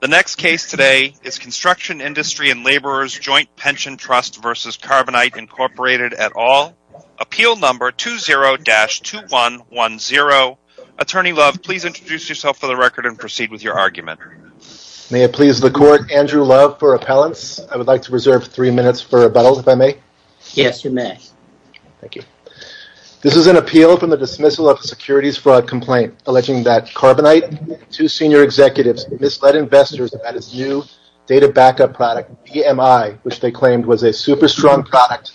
The next case today is Construction Industry and Laborers Joint Pension Trust v. Carbonite, Inc. at all. Appeal number 20-2110. Attorney Love, please introduce yourself for the record and proceed with your argument. May it please the court, Andrew Love for appellants. I would like to reserve three minutes for rebuttal, if I may. Yes, you may. Thank you. This is an appeal from the dismissal of a securities fraud complaint alleging that Carbonite and two senior executives misled investors about its new data backup product, VMI, which they claimed was a super strong product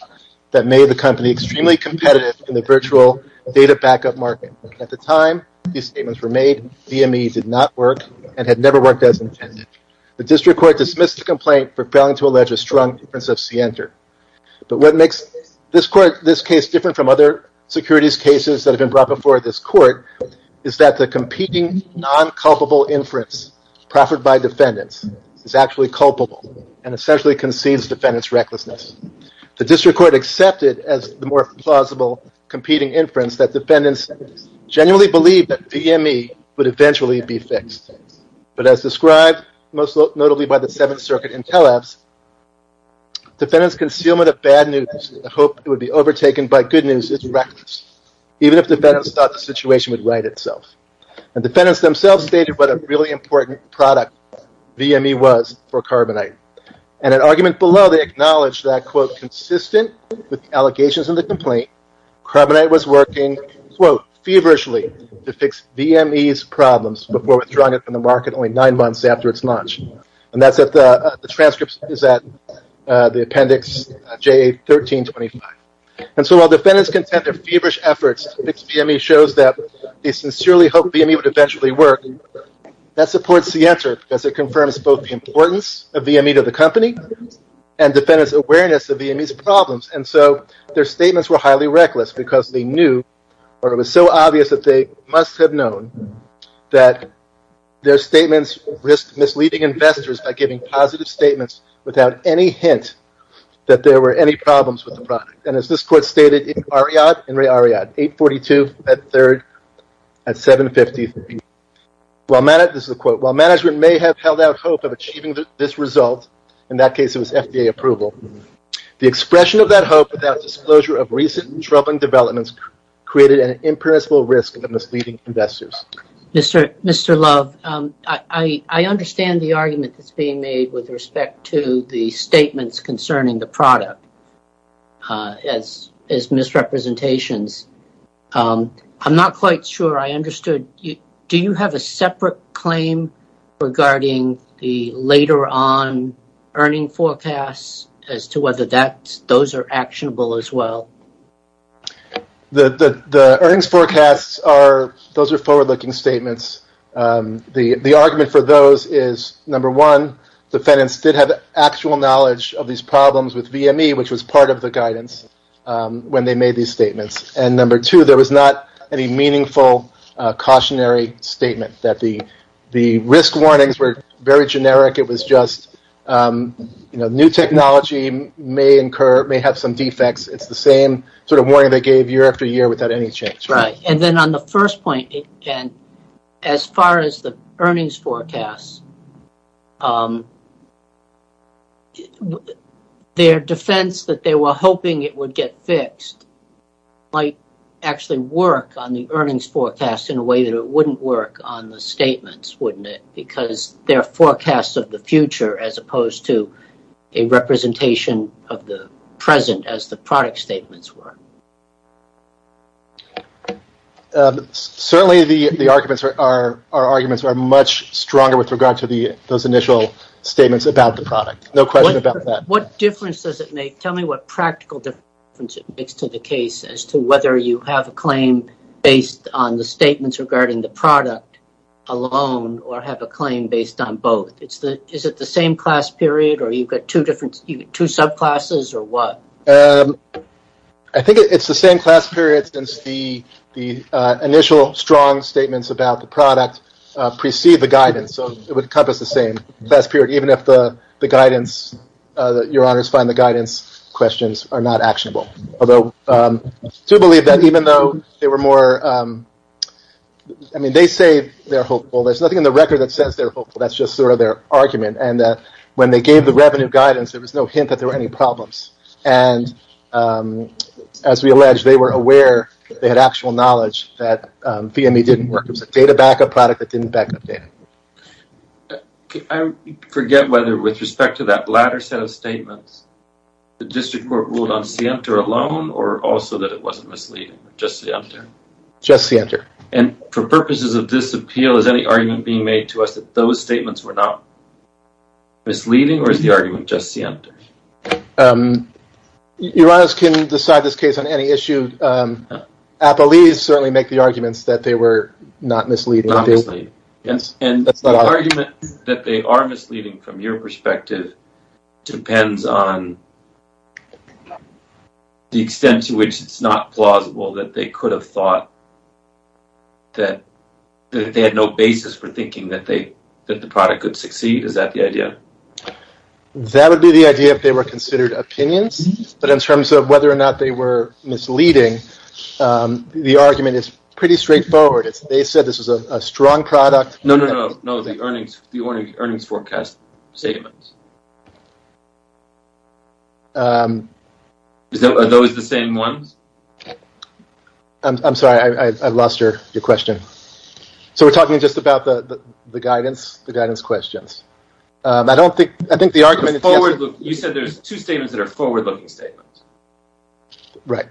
that made the company extremely competitive in the virtual data backup market. At the time these statements were made, VMI did not work and had never worked as intended. The district court dismissed the complaint for failing to allege a strong difference of scienter. But what makes this court, this case different from other securities cases that have been brought before this court is that the competing non-culpable inference proffered by defendants is actually culpable and essentially concedes defendants' recklessness. The district court accepted as the more plausible competing inference that defendants genuinely believed that VMI would eventually be fixed. But as described, most notably by the Seventh Circuit Intellabs, defendants' concealment of bad news in the hope it would be overtaken by good news is reckless. Even if defendants thought the situation would right itself. Defendants themselves stated what a really important product VMI was for Carbonite. In an argument below they acknowledged that quote consistent with allegations in the complaint, Carbonite was working quote feverishly to fix VMI's problems before withdrawing it from the market only nine months after its launch. And that's at the transcripts is at the appendix J1325. And so while defendants contended feverish efforts to fix VMI shows that they sincerely hoped VMI would eventually work, that supports the answer because it confirms both the importance of VMI to the company and defendants' awareness of VMI's problems. And so their statements were highly reckless because they knew or it was so obvious that they must have known that their statements risk misleading investors by giving positive statements without any hint that there were any problems with the product. And as this court stated in Ariad, 842 at third at 750. This is a quote, while management may have held out hope of achieving this result, in that case it was FDA approval. The expression of that hope without disclosure of recent troubling developments created an impermissible risk of misleading investors. Mr. Love, I understand the argument that's being made with respect to the statements concerning the product as misrepresentations. I'm not quite sure I understood. Do you have a separate claim regarding the later on earning forecasts as to whether those are actionable as statements? The argument for those is, number one, defendants did have actual knowledge of these problems with VMI, which was part of the guidance when they made these statements. And number two, there was not any meaningful cautionary statement that the risk warnings were very generic. It was just, you know, new technology may incur, may have some defects. It's the same sort of warning they gave year after year without any change. And then on the first point, as far as the earnings forecast, their defense that they were hoping it would get fixed might actually work on the earnings forecast in a way that it wouldn't work on the statements, wouldn't it? Because they're forecasts of the future as opposed to a representation of the present as the product statements were. But certainly the arguments are much stronger with regard to those initial statements about the product. No question about that. What difference does it make? Tell me what practical difference it makes to the case as to whether you have a claim based on the statements regarding the product alone or have a claim based on both. Is it the same class period or you've got two subclasses or what? I think it's the same class period since the initial strong statements about the product precede the guidance. So it would encompass the same class period, even if the guidance, your honors find the guidance questions are not actionable. Although I do believe that even though they were more, I mean, they say they're hopeful. There's nothing in the record that says they're hopeful. That's just sort of their argument. And when they gave the revenue guidance, there was no hint that there were any problems. And as we alleged, they were aware that they had actual knowledge that VME didn't work. It was a data backup product that didn't back up data. I forget whether with respect to that latter set of statements, the district court ruled on SIENTA alone or also that it wasn't misleading, just SIENTA? Just SIENTA. And for purposes of this appeal, is any argument being made to us that those statements were not misleading or is the argument just SIENTA? Your honors can decide this case on any issue. Appellees certainly make the arguments that they were not misleading. Not misleading. Yes. And the argument that they are misleading from your perspective depends on the extent to which it's not plausible that they could have thought that they had no basis for thinking that they, that the product could succeed. Is that the idea? That would be the idea if they were considered opinions, but in terms of whether or not they were misleading, the argument is pretty straightforward. It's, they said this was a strong product. No, no, no, no. The earnings forecast statements. Are those the same ones? I'm sorry, I lost your question. So we're talking just about the guidance, the guidance questions. I don't think, I think the argument is forward. You said there's two statements that are forward looking statements. Right.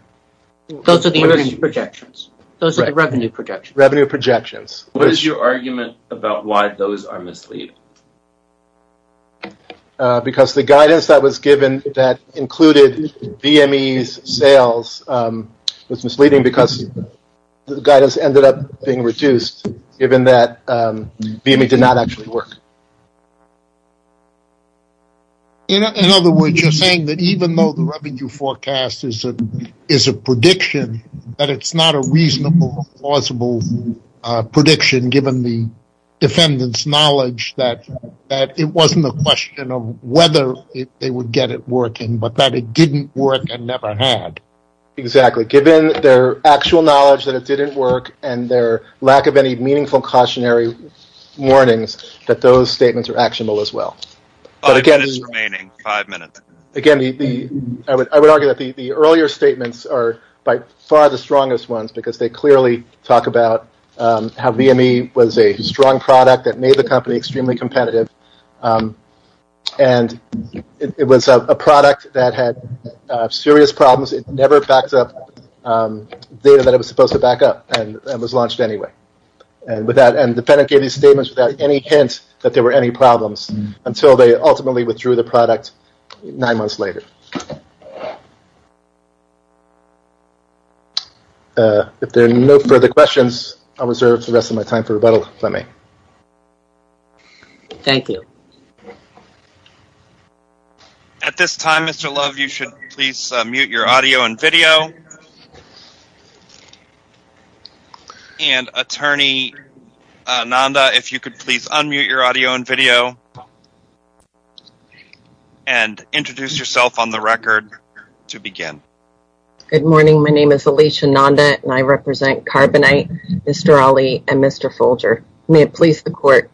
Those are the projections. Those are the revenue projections. Revenue projections. What is your argument about why those are misleading? Because the guidance that was given that included VME's sales was misleading because the guidance ended up being reduced given that VME did not actually work. In other words, you're saying that even though the revenue forecast is a prediction, that it's not a reasonable, plausible prediction given the defendant's knowledge that it wasn't the question of whether they would get it working, but that it didn't work and never had. Exactly. Given their actual knowledge that it didn't work and their lack of any meaningful cautionary warnings that those statements are actionable as well. Five minutes remaining, five minutes. Again, I would argue that the earlier statements are by far the strongest ones because they clearly talk about how VME was a strong product that made the company extremely competitive. And it was a product that had serious problems. It never backed up data that it was supposed to back up and was launched anyway. And the defendant gave these statements without any hint that there were any problems until they ultimately withdrew the product nine months later. If there are no further questions, I'll reserve the rest of my time for rebuttal if I may. Thank you. At this time, Mr. Love, you should please mute your audio and video. And Attorney Nanda, if you could please unmute your audio and video and introduce yourself on the record to begin. Good morning. My name is Alicia Nanda and I represent Carbonite, Mr. Ali, and Mr. Folger. May it please the court.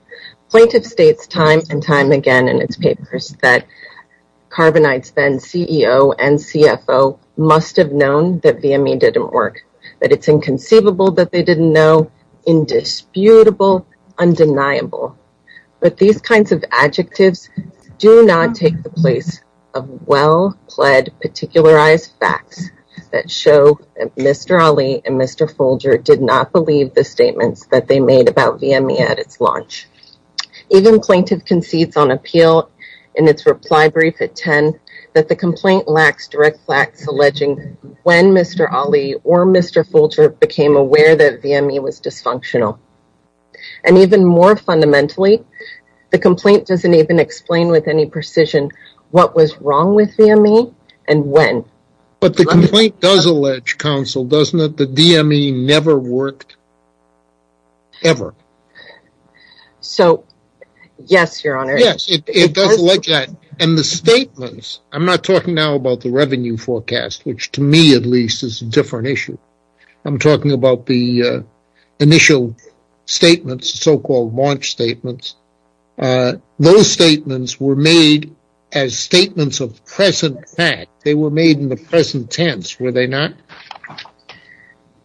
Plaintiff states time and time again in its papers that Carbonite's then CEO and CFO must have known that VME didn't work, that it's inconceivable that they didn't know, indisputable, undeniable. But these kinds of adjectives do not take the place of well-pled particularized facts that show that Mr. Ali and Mr. Folger did not believe the statements that they made about VME at its launch. Even plaintiff concedes on appeal in its reply brief at 10 that the complaint lacks direct facts alleging when Mr. Ali or Mr. Folger became aware that VME was dysfunctional. And even more fundamentally, the complaint doesn't even explain with any precision what was wrong with VME and when. But the complaint does allege counsel, doesn't it? The DME never worked ever. So, yes, Your Honor. Yes, it does allege that. And the statements, I'm not talking now about the revenue forecast, which to me, at least, is a different issue. I'm talking about the initial statements, so-called launch statements. Those statements were made as statements of present fact. They were made in the present tense, were they not?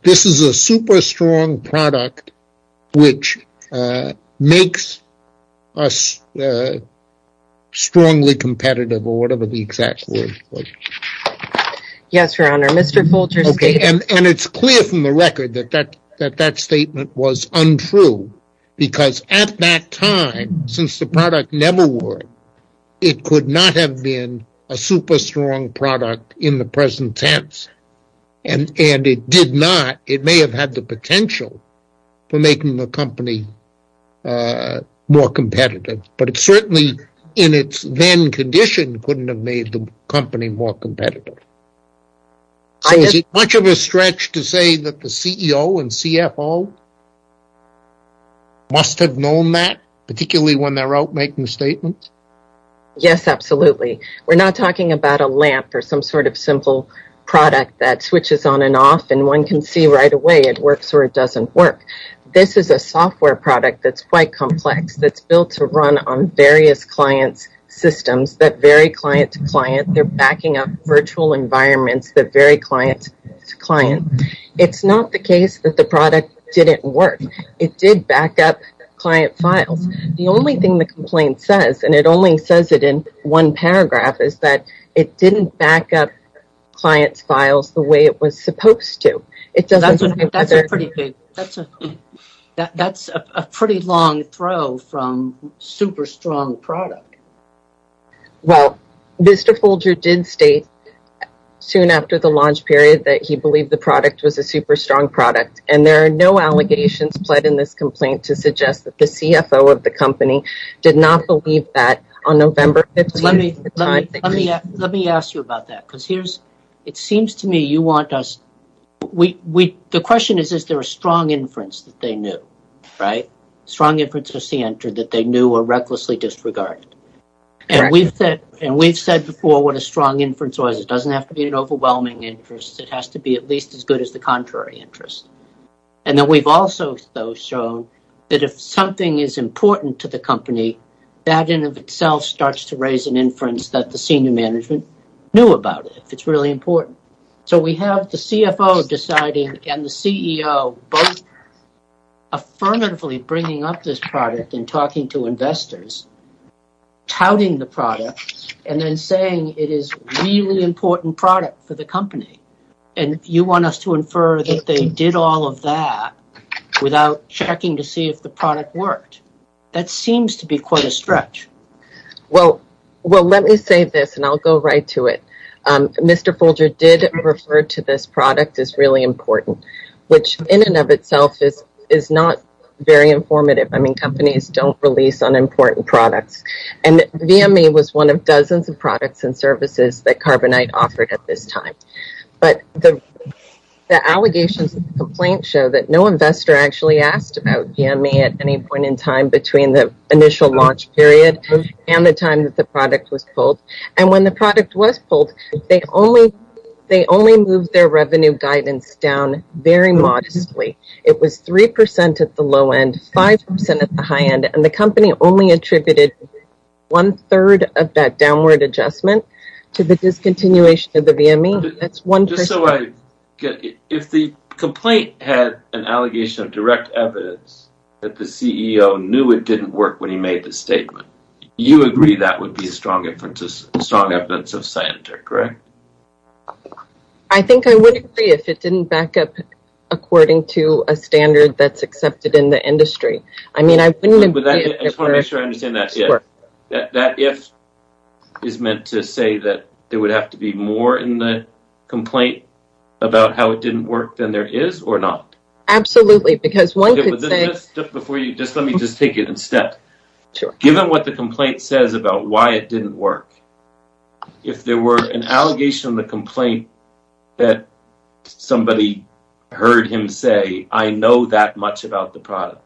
This is a super strong product, which makes us strongly competitive or whatever the exact word was. Yes, Your Honor. Mr. Folger's statement- Okay, and it's clear from the record that that statement was untrue because at that time, since the product never worked, it could not have been a super strong product in the present tense. And it did not. It may have had the potential for making the company more competitive, but it certainly in its then condition couldn't have made the company more competitive. So, is it much of a stretch to say that the CEO and CFO must have known that, particularly when they're out making statements? Yes, absolutely. We're not talking about a lamp or some sort of simple product that switches on and off and one can see right away it works or it doesn't work. This is a software product that's quite complex, that's built to run on various clients' systems that vary client to client. They're backing up virtual environments that vary client to client. It's not the case that the product didn't work. It did back up client files. The only thing the complaint says, and it only says it in one paragraph, is that it didn't back up client's files the way it was supposed to. That's a pretty long throw from super strong product. Well, Mr. Folger did state soon after the launch period that he believed the product was a super strong product. There are no allegations pled in this complaint to suggest that the CFO of the company did not believe that on November 15th. Let me ask you about that. The question is, is there a strong inference that they knew? Strong inferences that they knew were recklessly disregarded. We've said before what a strong inference was. It doesn't have to be an overwhelming interest. It has to be at least as good as the contrary interest. We've also shown that if something is important to the company, that in and of itself starts to raise an inference that the senior management knew about it, if it's really important. We have the CFO deciding and the CEO both affirmatively bringing up this product and talking to investors, touting the product, and then saying it is a really important product for the company. You want us to infer that they did all of that without checking to see if the product worked. That seems to be quite a stretch. Well, let me say this, and I'll go right to it. Mr. Folger did refer to this product as really important, which in and of itself is not very informative. Companies don't release unimportant products. VMA was one of dozens of products and services that Carbonite offered at this time. But the allegations and complaints show that no investor actually asked about VMA at any point in time between the initial launch period and the time that the product was pulled. When the product was pulled, they only moved their revenue guidance down very modestly. It was 3% at the low end, 5% at the high end, and the company only attributed one third of that downward adjustment to the discontinuation of the VMA. Just so I get it, if the complaint had an allegation of direct evidence that the CEO knew it didn't work when he made the statement, you agree that would be a strong evidence of scientific, correct? I think I would agree if it didn't back up according to a standard that's accepted in the industry. I mean, I wouldn't agree if it were... I just want to make sure I understand that. That if is meant to say that there would have to be more in the complaint about how it didn't work than there is or not? Absolutely, because one could say... Let me just take it in step. Given what the complaint says about why it didn't work, if there were an allegation in the complaint that somebody heard him say, I know that much about the product,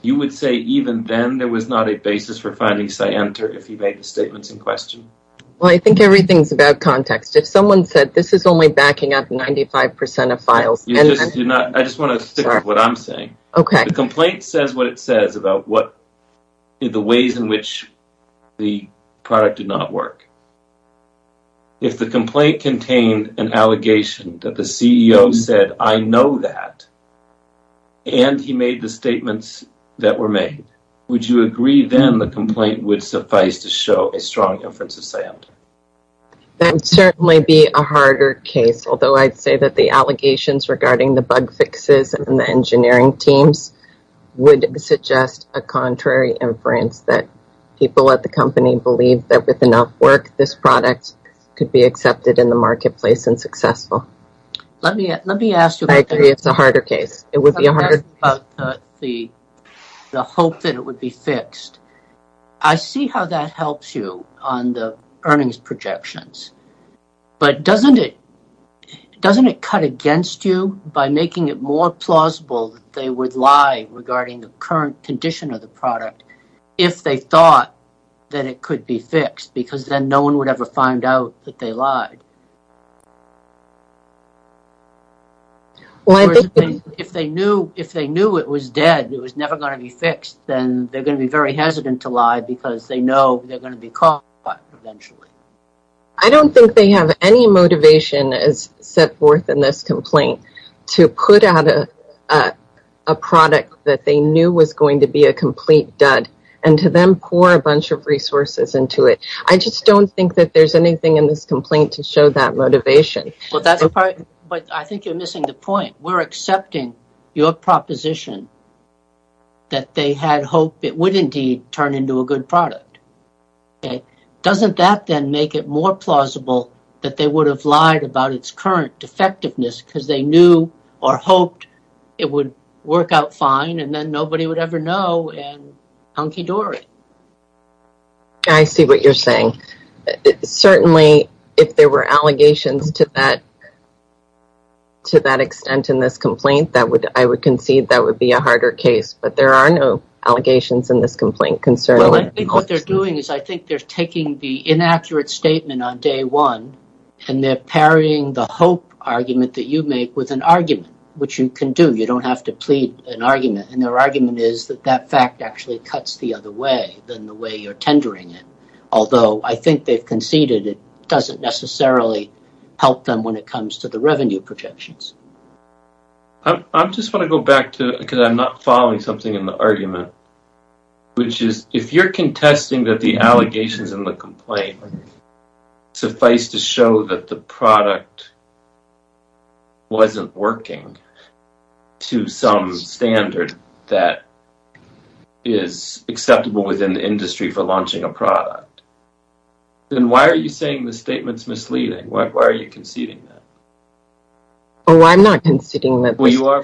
you would say even then there was not a basis for finding Scienter if he made the statements in question? Well, I think everything's about context. If someone said, this is only backing up 95% of files... I just want to stick with what I'm saying. The complaint says what it says about the ways in which the product did not work. If the complaint contained an allegation that the CEO said, I know that, and he made the statements that were made, would you agree then the complaint would suffice to show a strong inference of sound? That would certainly be a harder case, although I'd say that the allegations regarding the bug fixes and the engineering teams would suggest a contrary inference that people at the company believe that with enough work, this product could be accepted in the marketplace and successful. Let me ask you... I agree it's a harder case. It would be a harder case. The hope that it would be fixed, I see how that helps you on the earnings projections, but doesn't it cut against you by making it more plausible that they would lie regarding the current condition of the product if they thought that it could be fixed, because then no one would ever find out that they lied? If they knew it was dead, it was never going to be fixed, then they're going to be very hesitant to lie because they know they're going to be caught eventually. I don't think they have any motivation as set forth in this complaint to put out a product that they knew was going to be a complete dud, and to then pour a bunch of resources into it. I just don't think that there's anything in this complaint to show that it's going to that motivation. I think you're missing the point. We're accepting your proposition that they had hoped it would indeed turn into a good product. Doesn't that then make it more plausible that they would have lied about its current defectiveness because they knew or hoped it would work out fine and then nobody would ever know and hunky-dory? I see what you're saying. Certainly, if there were allegations to that extent in this complaint, I would concede that would be a harder case, but there are no allegations in this complaint concerning it. I think what they're doing is I think they're taking the inaccurate statement on day one and they're parrying the hope argument that you make with an argument, which you can do. You don't have to plead an argument, and their argument is that that fact actually cuts the other way than the way you're tendering it. Although, I think they've conceded it doesn't necessarily help them when it comes to the revenue projections. I just want to go back to, because I'm not following something in the argument, which is if you're contesting that the allegations in the complaint suffice to show that the product wasn't working to some standard that is acceptable within the industry for launching a product, then why are you saying the statement's misleading? Why are you conceding that? I'm not conceding that. Well,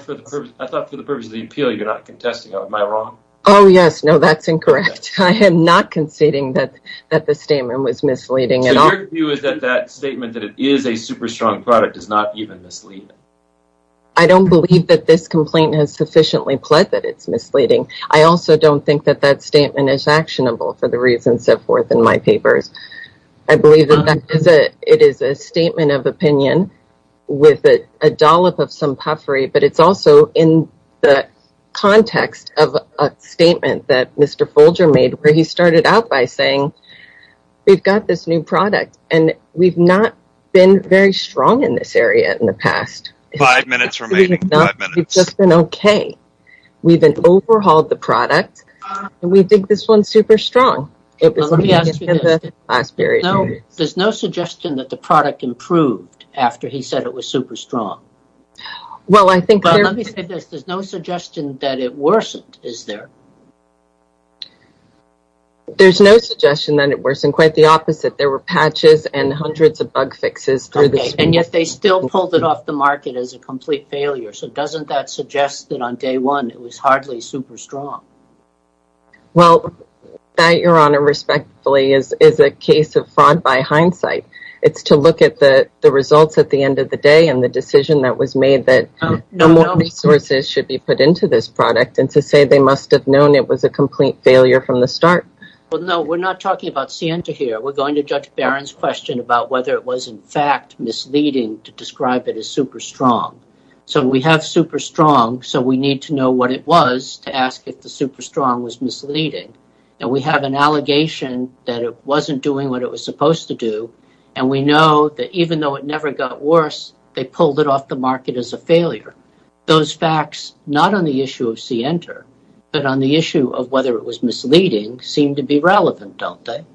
I thought for the purpose of the appeal, you're not contesting. Am I wrong? Oh, yes. No, that's incorrect. I am not conceding that the statement was misleading at all. So your view is that that statement that it is a super strong product is not even misleading? I don't believe that this complaint has sufficiently pled that it's misleading. I also don't think that that statement is actionable for the reasons set forth in my papers. I believe that it is a statement of opinion with a dollop of some puffery, but it's also in the context of a statement that Mr. Folger made where he started out by saying, we've got this new product, and we've not been very strong in this area in the past. Five minutes remaining. Five minutes. We've just been okay. We've overhauled the product, and we think this one's super strong. There's no suggestion that the product improved after he said it was super strong. Well, I think there's no suggestion that it worsened, is there? There's no suggestion that it worsened. Quite the opposite. There were patches and hundreds of bug fixes through this. And yet they still pulled it off the market as a complete failure. So doesn't that suggest that on day one, it was hardly super strong? Well, that, Your Honor, respectfully, is a case of fraud by hindsight. It's to look at the results at the end of the day and the decision that was made that no more resources should be put into this product. And to say they must have known it was a complete failure from the start. Well, no, we're not talking about Sienta here. We're going to Judge Barron's question about whether it was, in fact, misleading to describe it as super strong. So we have super strong. So we need to know what it was to ask if the super strong was misleading. And we have an allegation that it wasn't doing what it was supposed to do. And we know that even though it never got worse, they pulled it off the market as a failure. Those facts, not on the issue of Sienta, but on the issue of whether it was misleading, seem to be relevant, don't they?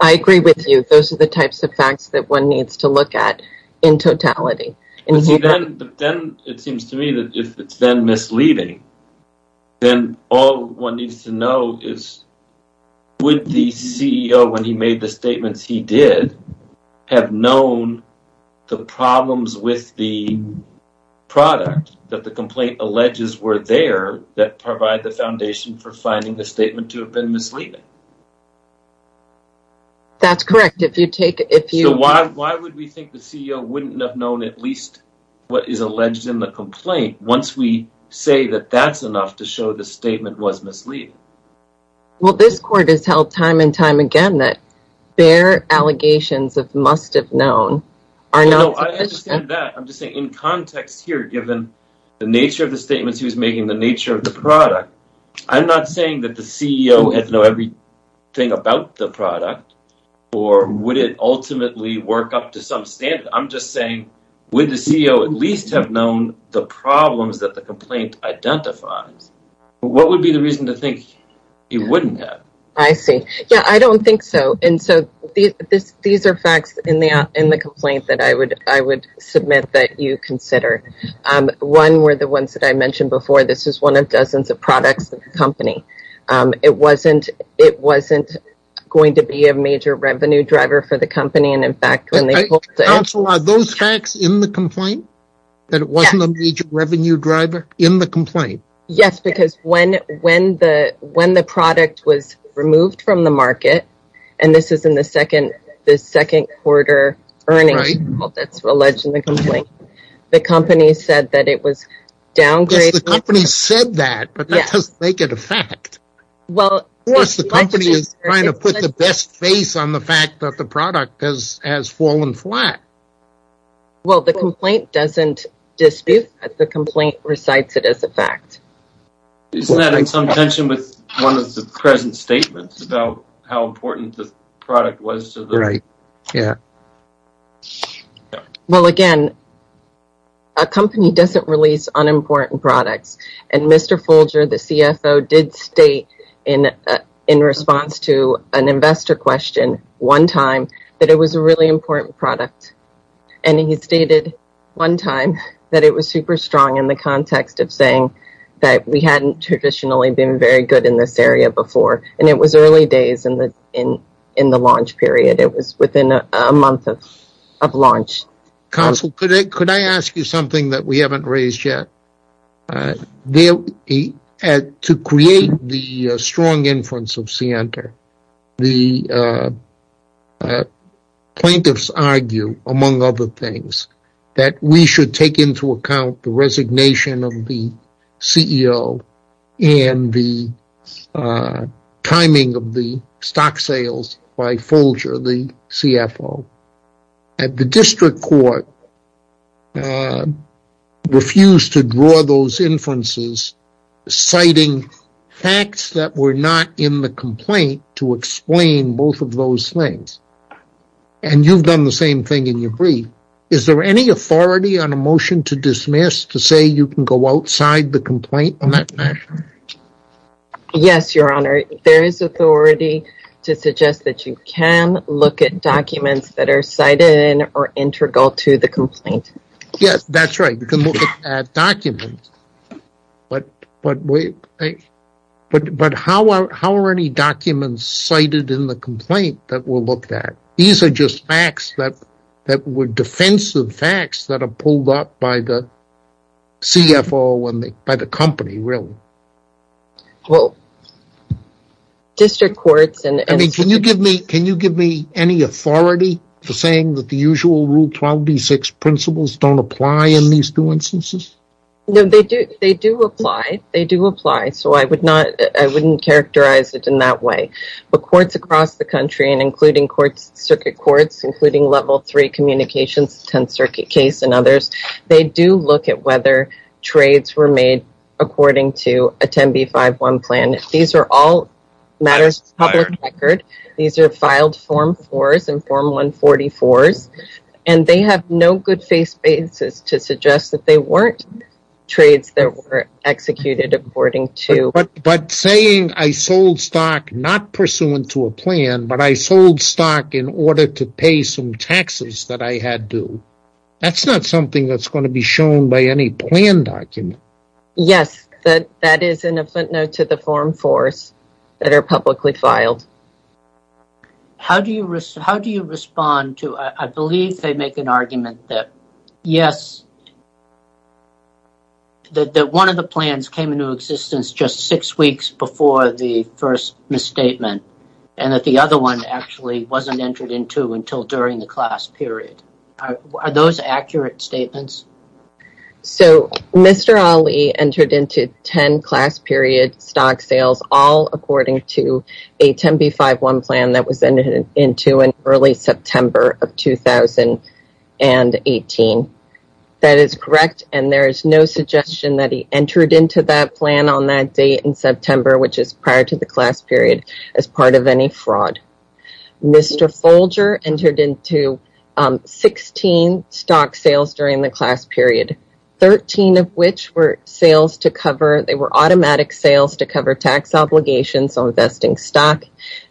I agree with you. Those are the types of facts that one needs to look at in totality. And then it seems to me that if it's then misleading, then all one needs to know is would the CEO, when he made the statements he did, have known the problems with the product that the complaint alleges were there that provide the foundation for finding the statement to have been misleading? That's correct. So why would we think the CEO wouldn't have known at least what is alleged in the complaint once we say that that's enough to show the statement was misleading? Well, this court has held time and time again that their allegations of must have known are not sufficient. No, I understand that. I'm just saying in context here, given the nature of the statements he was making, the nature of the product, I'm not saying that the CEO had to know everything about the would it ultimately work up to some standard. I'm just saying, would the CEO at least have known the problems that the complaint identifies? What would be the reason to think he wouldn't have? I see. Yeah, I don't think so. And so these are facts in the complaint that I would submit that you consider. One were the ones that I mentioned before. This is one of dozens of products of the company. It wasn't it wasn't going to be a major revenue driver for the company. And in fact, when they also are those facts in the complaint that it wasn't a major revenue driver in the complaint. Yes, because when when the when the product was removed from the market, and this is in the second, the second quarter earnings that's alleged in the complaint, the company said that it was downgraded. The company said that, but that doesn't make it a fact. Well, yes, the company is trying to put the best face on the fact that the product has has fallen flat. Well, the complaint doesn't dispute that the complaint recites it as a fact. Isn't that in some tension with one of the present statements about how important the product was to the right? Yeah. Well, again. A company doesn't release unimportant products. And Mr. Folger, the CFO, did state in in response to an investor question one time that it was a really important product. And he stated one time that it was super strong in the context of saying that we hadn't traditionally been very good in this area before. And it was early days in the in in the launch period. It was within a month of of launch. Counsel, could I ask you something that we haven't raised yet? To create the strong influence of Sienta, the plaintiffs argue, among other things, that we should take into account the resignation of the CEO and the timing of the stock sales by Folger, the CFO. And the district court refused to draw those inferences, citing facts that were not in the complaint to explain both of those things. And you've done the same thing in your brief. Is there any authority on a motion to dismiss to say you can go outside the complaint on that matter? Yes, Your Honor. There is authority to suggest that you can look at documents that are cited or integral to the complaint. Yes, that's right. You can look at documents. But how are any documents cited in the complaint that we'll look at? These are just facts that that were defensive facts that are pulled up by the CFO and by the company, really. Well, district courts and... I mean, can you give me any authority for saying that the usual Rule 12b-6 principles don't apply in these two instances? No, they do. They do apply. They do apply. So I would not... I wouldn't characterize it in that way. But courts across the country, and including courts, circuit courts, including Level 3 Communications, 10th Circuit case, and others, they do look at whether trades were made according to a 10b-5-1 plan. These are all matters of public record. These are filed Form 4s and Form 144s, and they have no good face basis to suggest that they weren't trades that were executed according to... But saying I sold stock not pursuant to a plan, but I sold stock in order to pay some taxes that I had due, that's not something that's going to be shown by any plan document. Yes, that is in a footnote to the Form 4s that are publicly filed. How do you respond to... I believe they make an argument that, yes, that one of the plans came into existence just six weeks before the first misstatement, and that the other one actually wasn't entered into until during the class period. Are those accurate statements? So, Mr. Ali entered into 10 class period stock sales, all according to a 10b-5-1 plan that was entered into in early September of 2018. That is correct, and there is no suggestion that he entered into that plan on that date in September, which is prior to the class period, as part of any fraud. Mr. Folger entered into 16 stock sales during the class period, 13 of which were sales to cover... They were automatic sales to cover tax obligations on investing stock.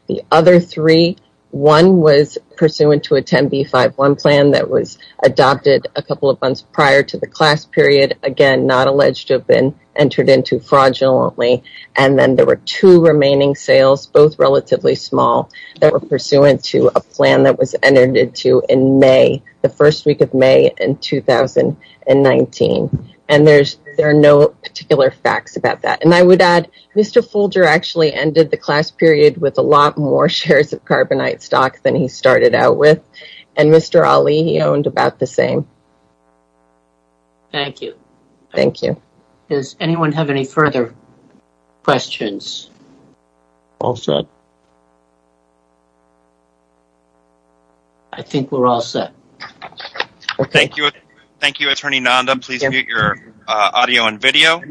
The other three, one was pursuant to a 10b-5-1 plan that was adopted a couple of months prior to the class period, again, not alleged to have been entered into fraudulently, and then there were two remaining sales, both relatively small, that were pursuant to a plan that was entered into in May, the first week of May in 2019, and there are no particular facts about that. And I would add, Mr. Folger actually ended the class period with a lot more shares of carbonite stock than he started out with, and Mr. Ali, he owned about the same. Thank you. Thank you. Does anyone have any further questions? All set. I think we're all set. Thank you. Thank you, Attorney Nanda. Please mute your audio and video.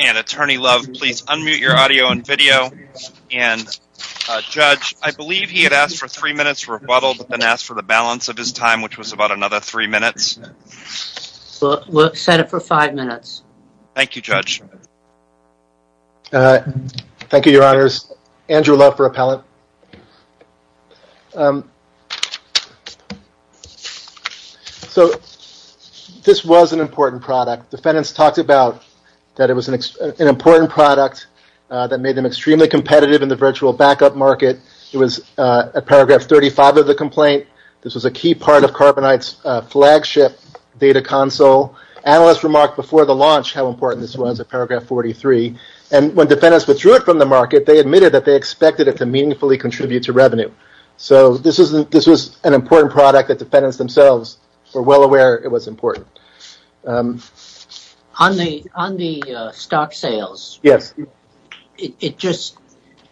And Attorney Love, please unmute your audio and video. And Judge, I believe he had asked for three minutes rebuttal, but then asked for the balance of his time, which was about another three minutes. We'll set it for five minutes. Thank you, Judge. Thank you, Your Honors. Andrew Love for appellate. So this was an important product. Defendants talked about that it was an important product that made them extremely competitive in the virtual backup market. It was at paragraph 35 of the complaint. This was a key part of carbonite's flagship data console. Analysts remarked before the launch how important this was at paragraph 43, and when defendants withdrew it from the market, they admitted that they expected it to meaningfully contribute to revenue. So this was an important product that defendants themselves were well aware it was important. On the stock sales,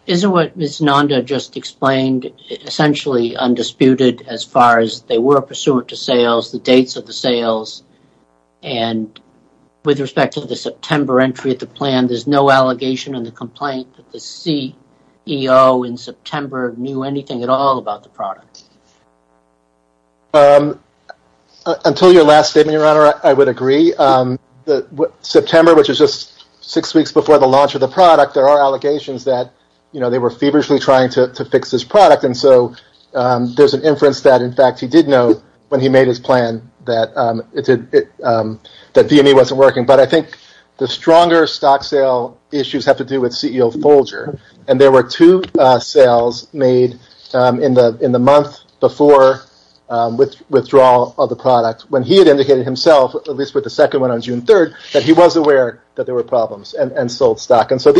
isn't what Ms. Nanda just explained essentially undisputed? As far as they were pursuant to sales, the dates of the sales, and with respect to the September entry of the plan, there's no allegation in the complaint that the CEO in September knew anything at all about the product. Until your last statement, Your Honor, I would agree. September, which is just six weeks before the launch of the product, there are allegations and so there's an inference that in fact he did know when he made his plan that DME wasn't working, but I think the stronger stock sale issues have to do with CEO Folger. There were two sales made in the month before withdrawal of the product when he had indicated himself, at least with the second one on June 3rd, that he was aware that there were problems and sold stock. So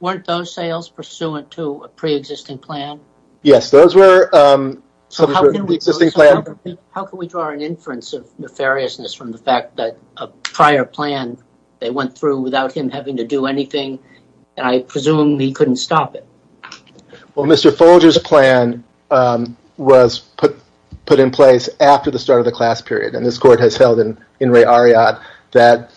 weren't those sales pursuant to a pre-existing plan? Yes, those were. How can we draw an inference of nefariousness from the fact that a prior plan they went through without him having to do anything, and I presume he couldn't stop it? Well, Mr. Folger's plan was put in place after the start of the class period, and this court has held in Ray Ariat that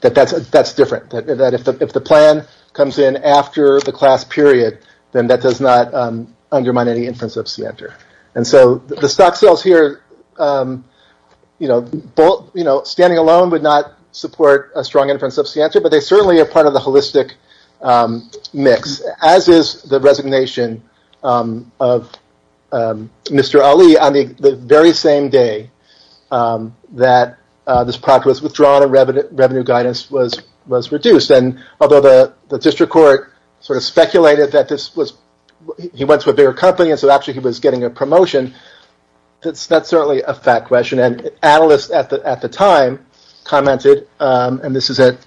that's different, that if the plan comes in after the class period, then that does not undermine any inference of scienter. And so the stock sales here, standing alone would not support a strong inference of scienter, but they certainly are part of the holistic mix, as is the resignation of Mr. Ali on the very same day that this product was withdrawn and revenue guidance was reduced. And although the district court sort of speculated that he went to a bigger company, and so actually he was getting a promotion, that's certainly a fact question. And analysts at the time commented, and this is at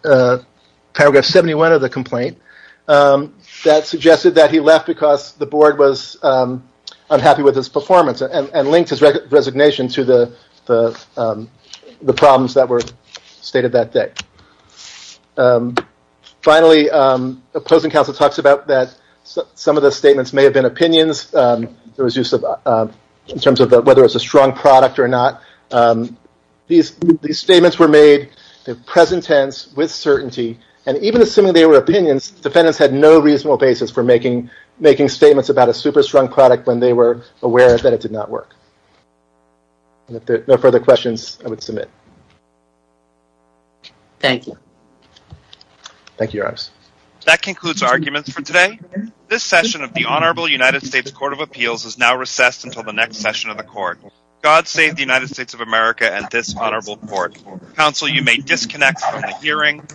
paragraph 71 of the complaint, that suggested that he left because the board was unhappy with his performance and linked his resignation to the problems that were stated that day. Finally, opposing counsel talks about that some of the statements may have been opinions. There was use in terms of whether it was a strong product or not. These statements were made in present tense with certainty, and even assuming they were making statements about a super strong product when they were aware that it did not work. No further questions, I would submit. Thank you. Thank you, Your Honors. That concludes arguments for today. This session of the Honorable United States Court of Appeals is now recessed until the next session of the court. God save the United States of America and this honorable court. Counsel, you may disconnect from the hearing.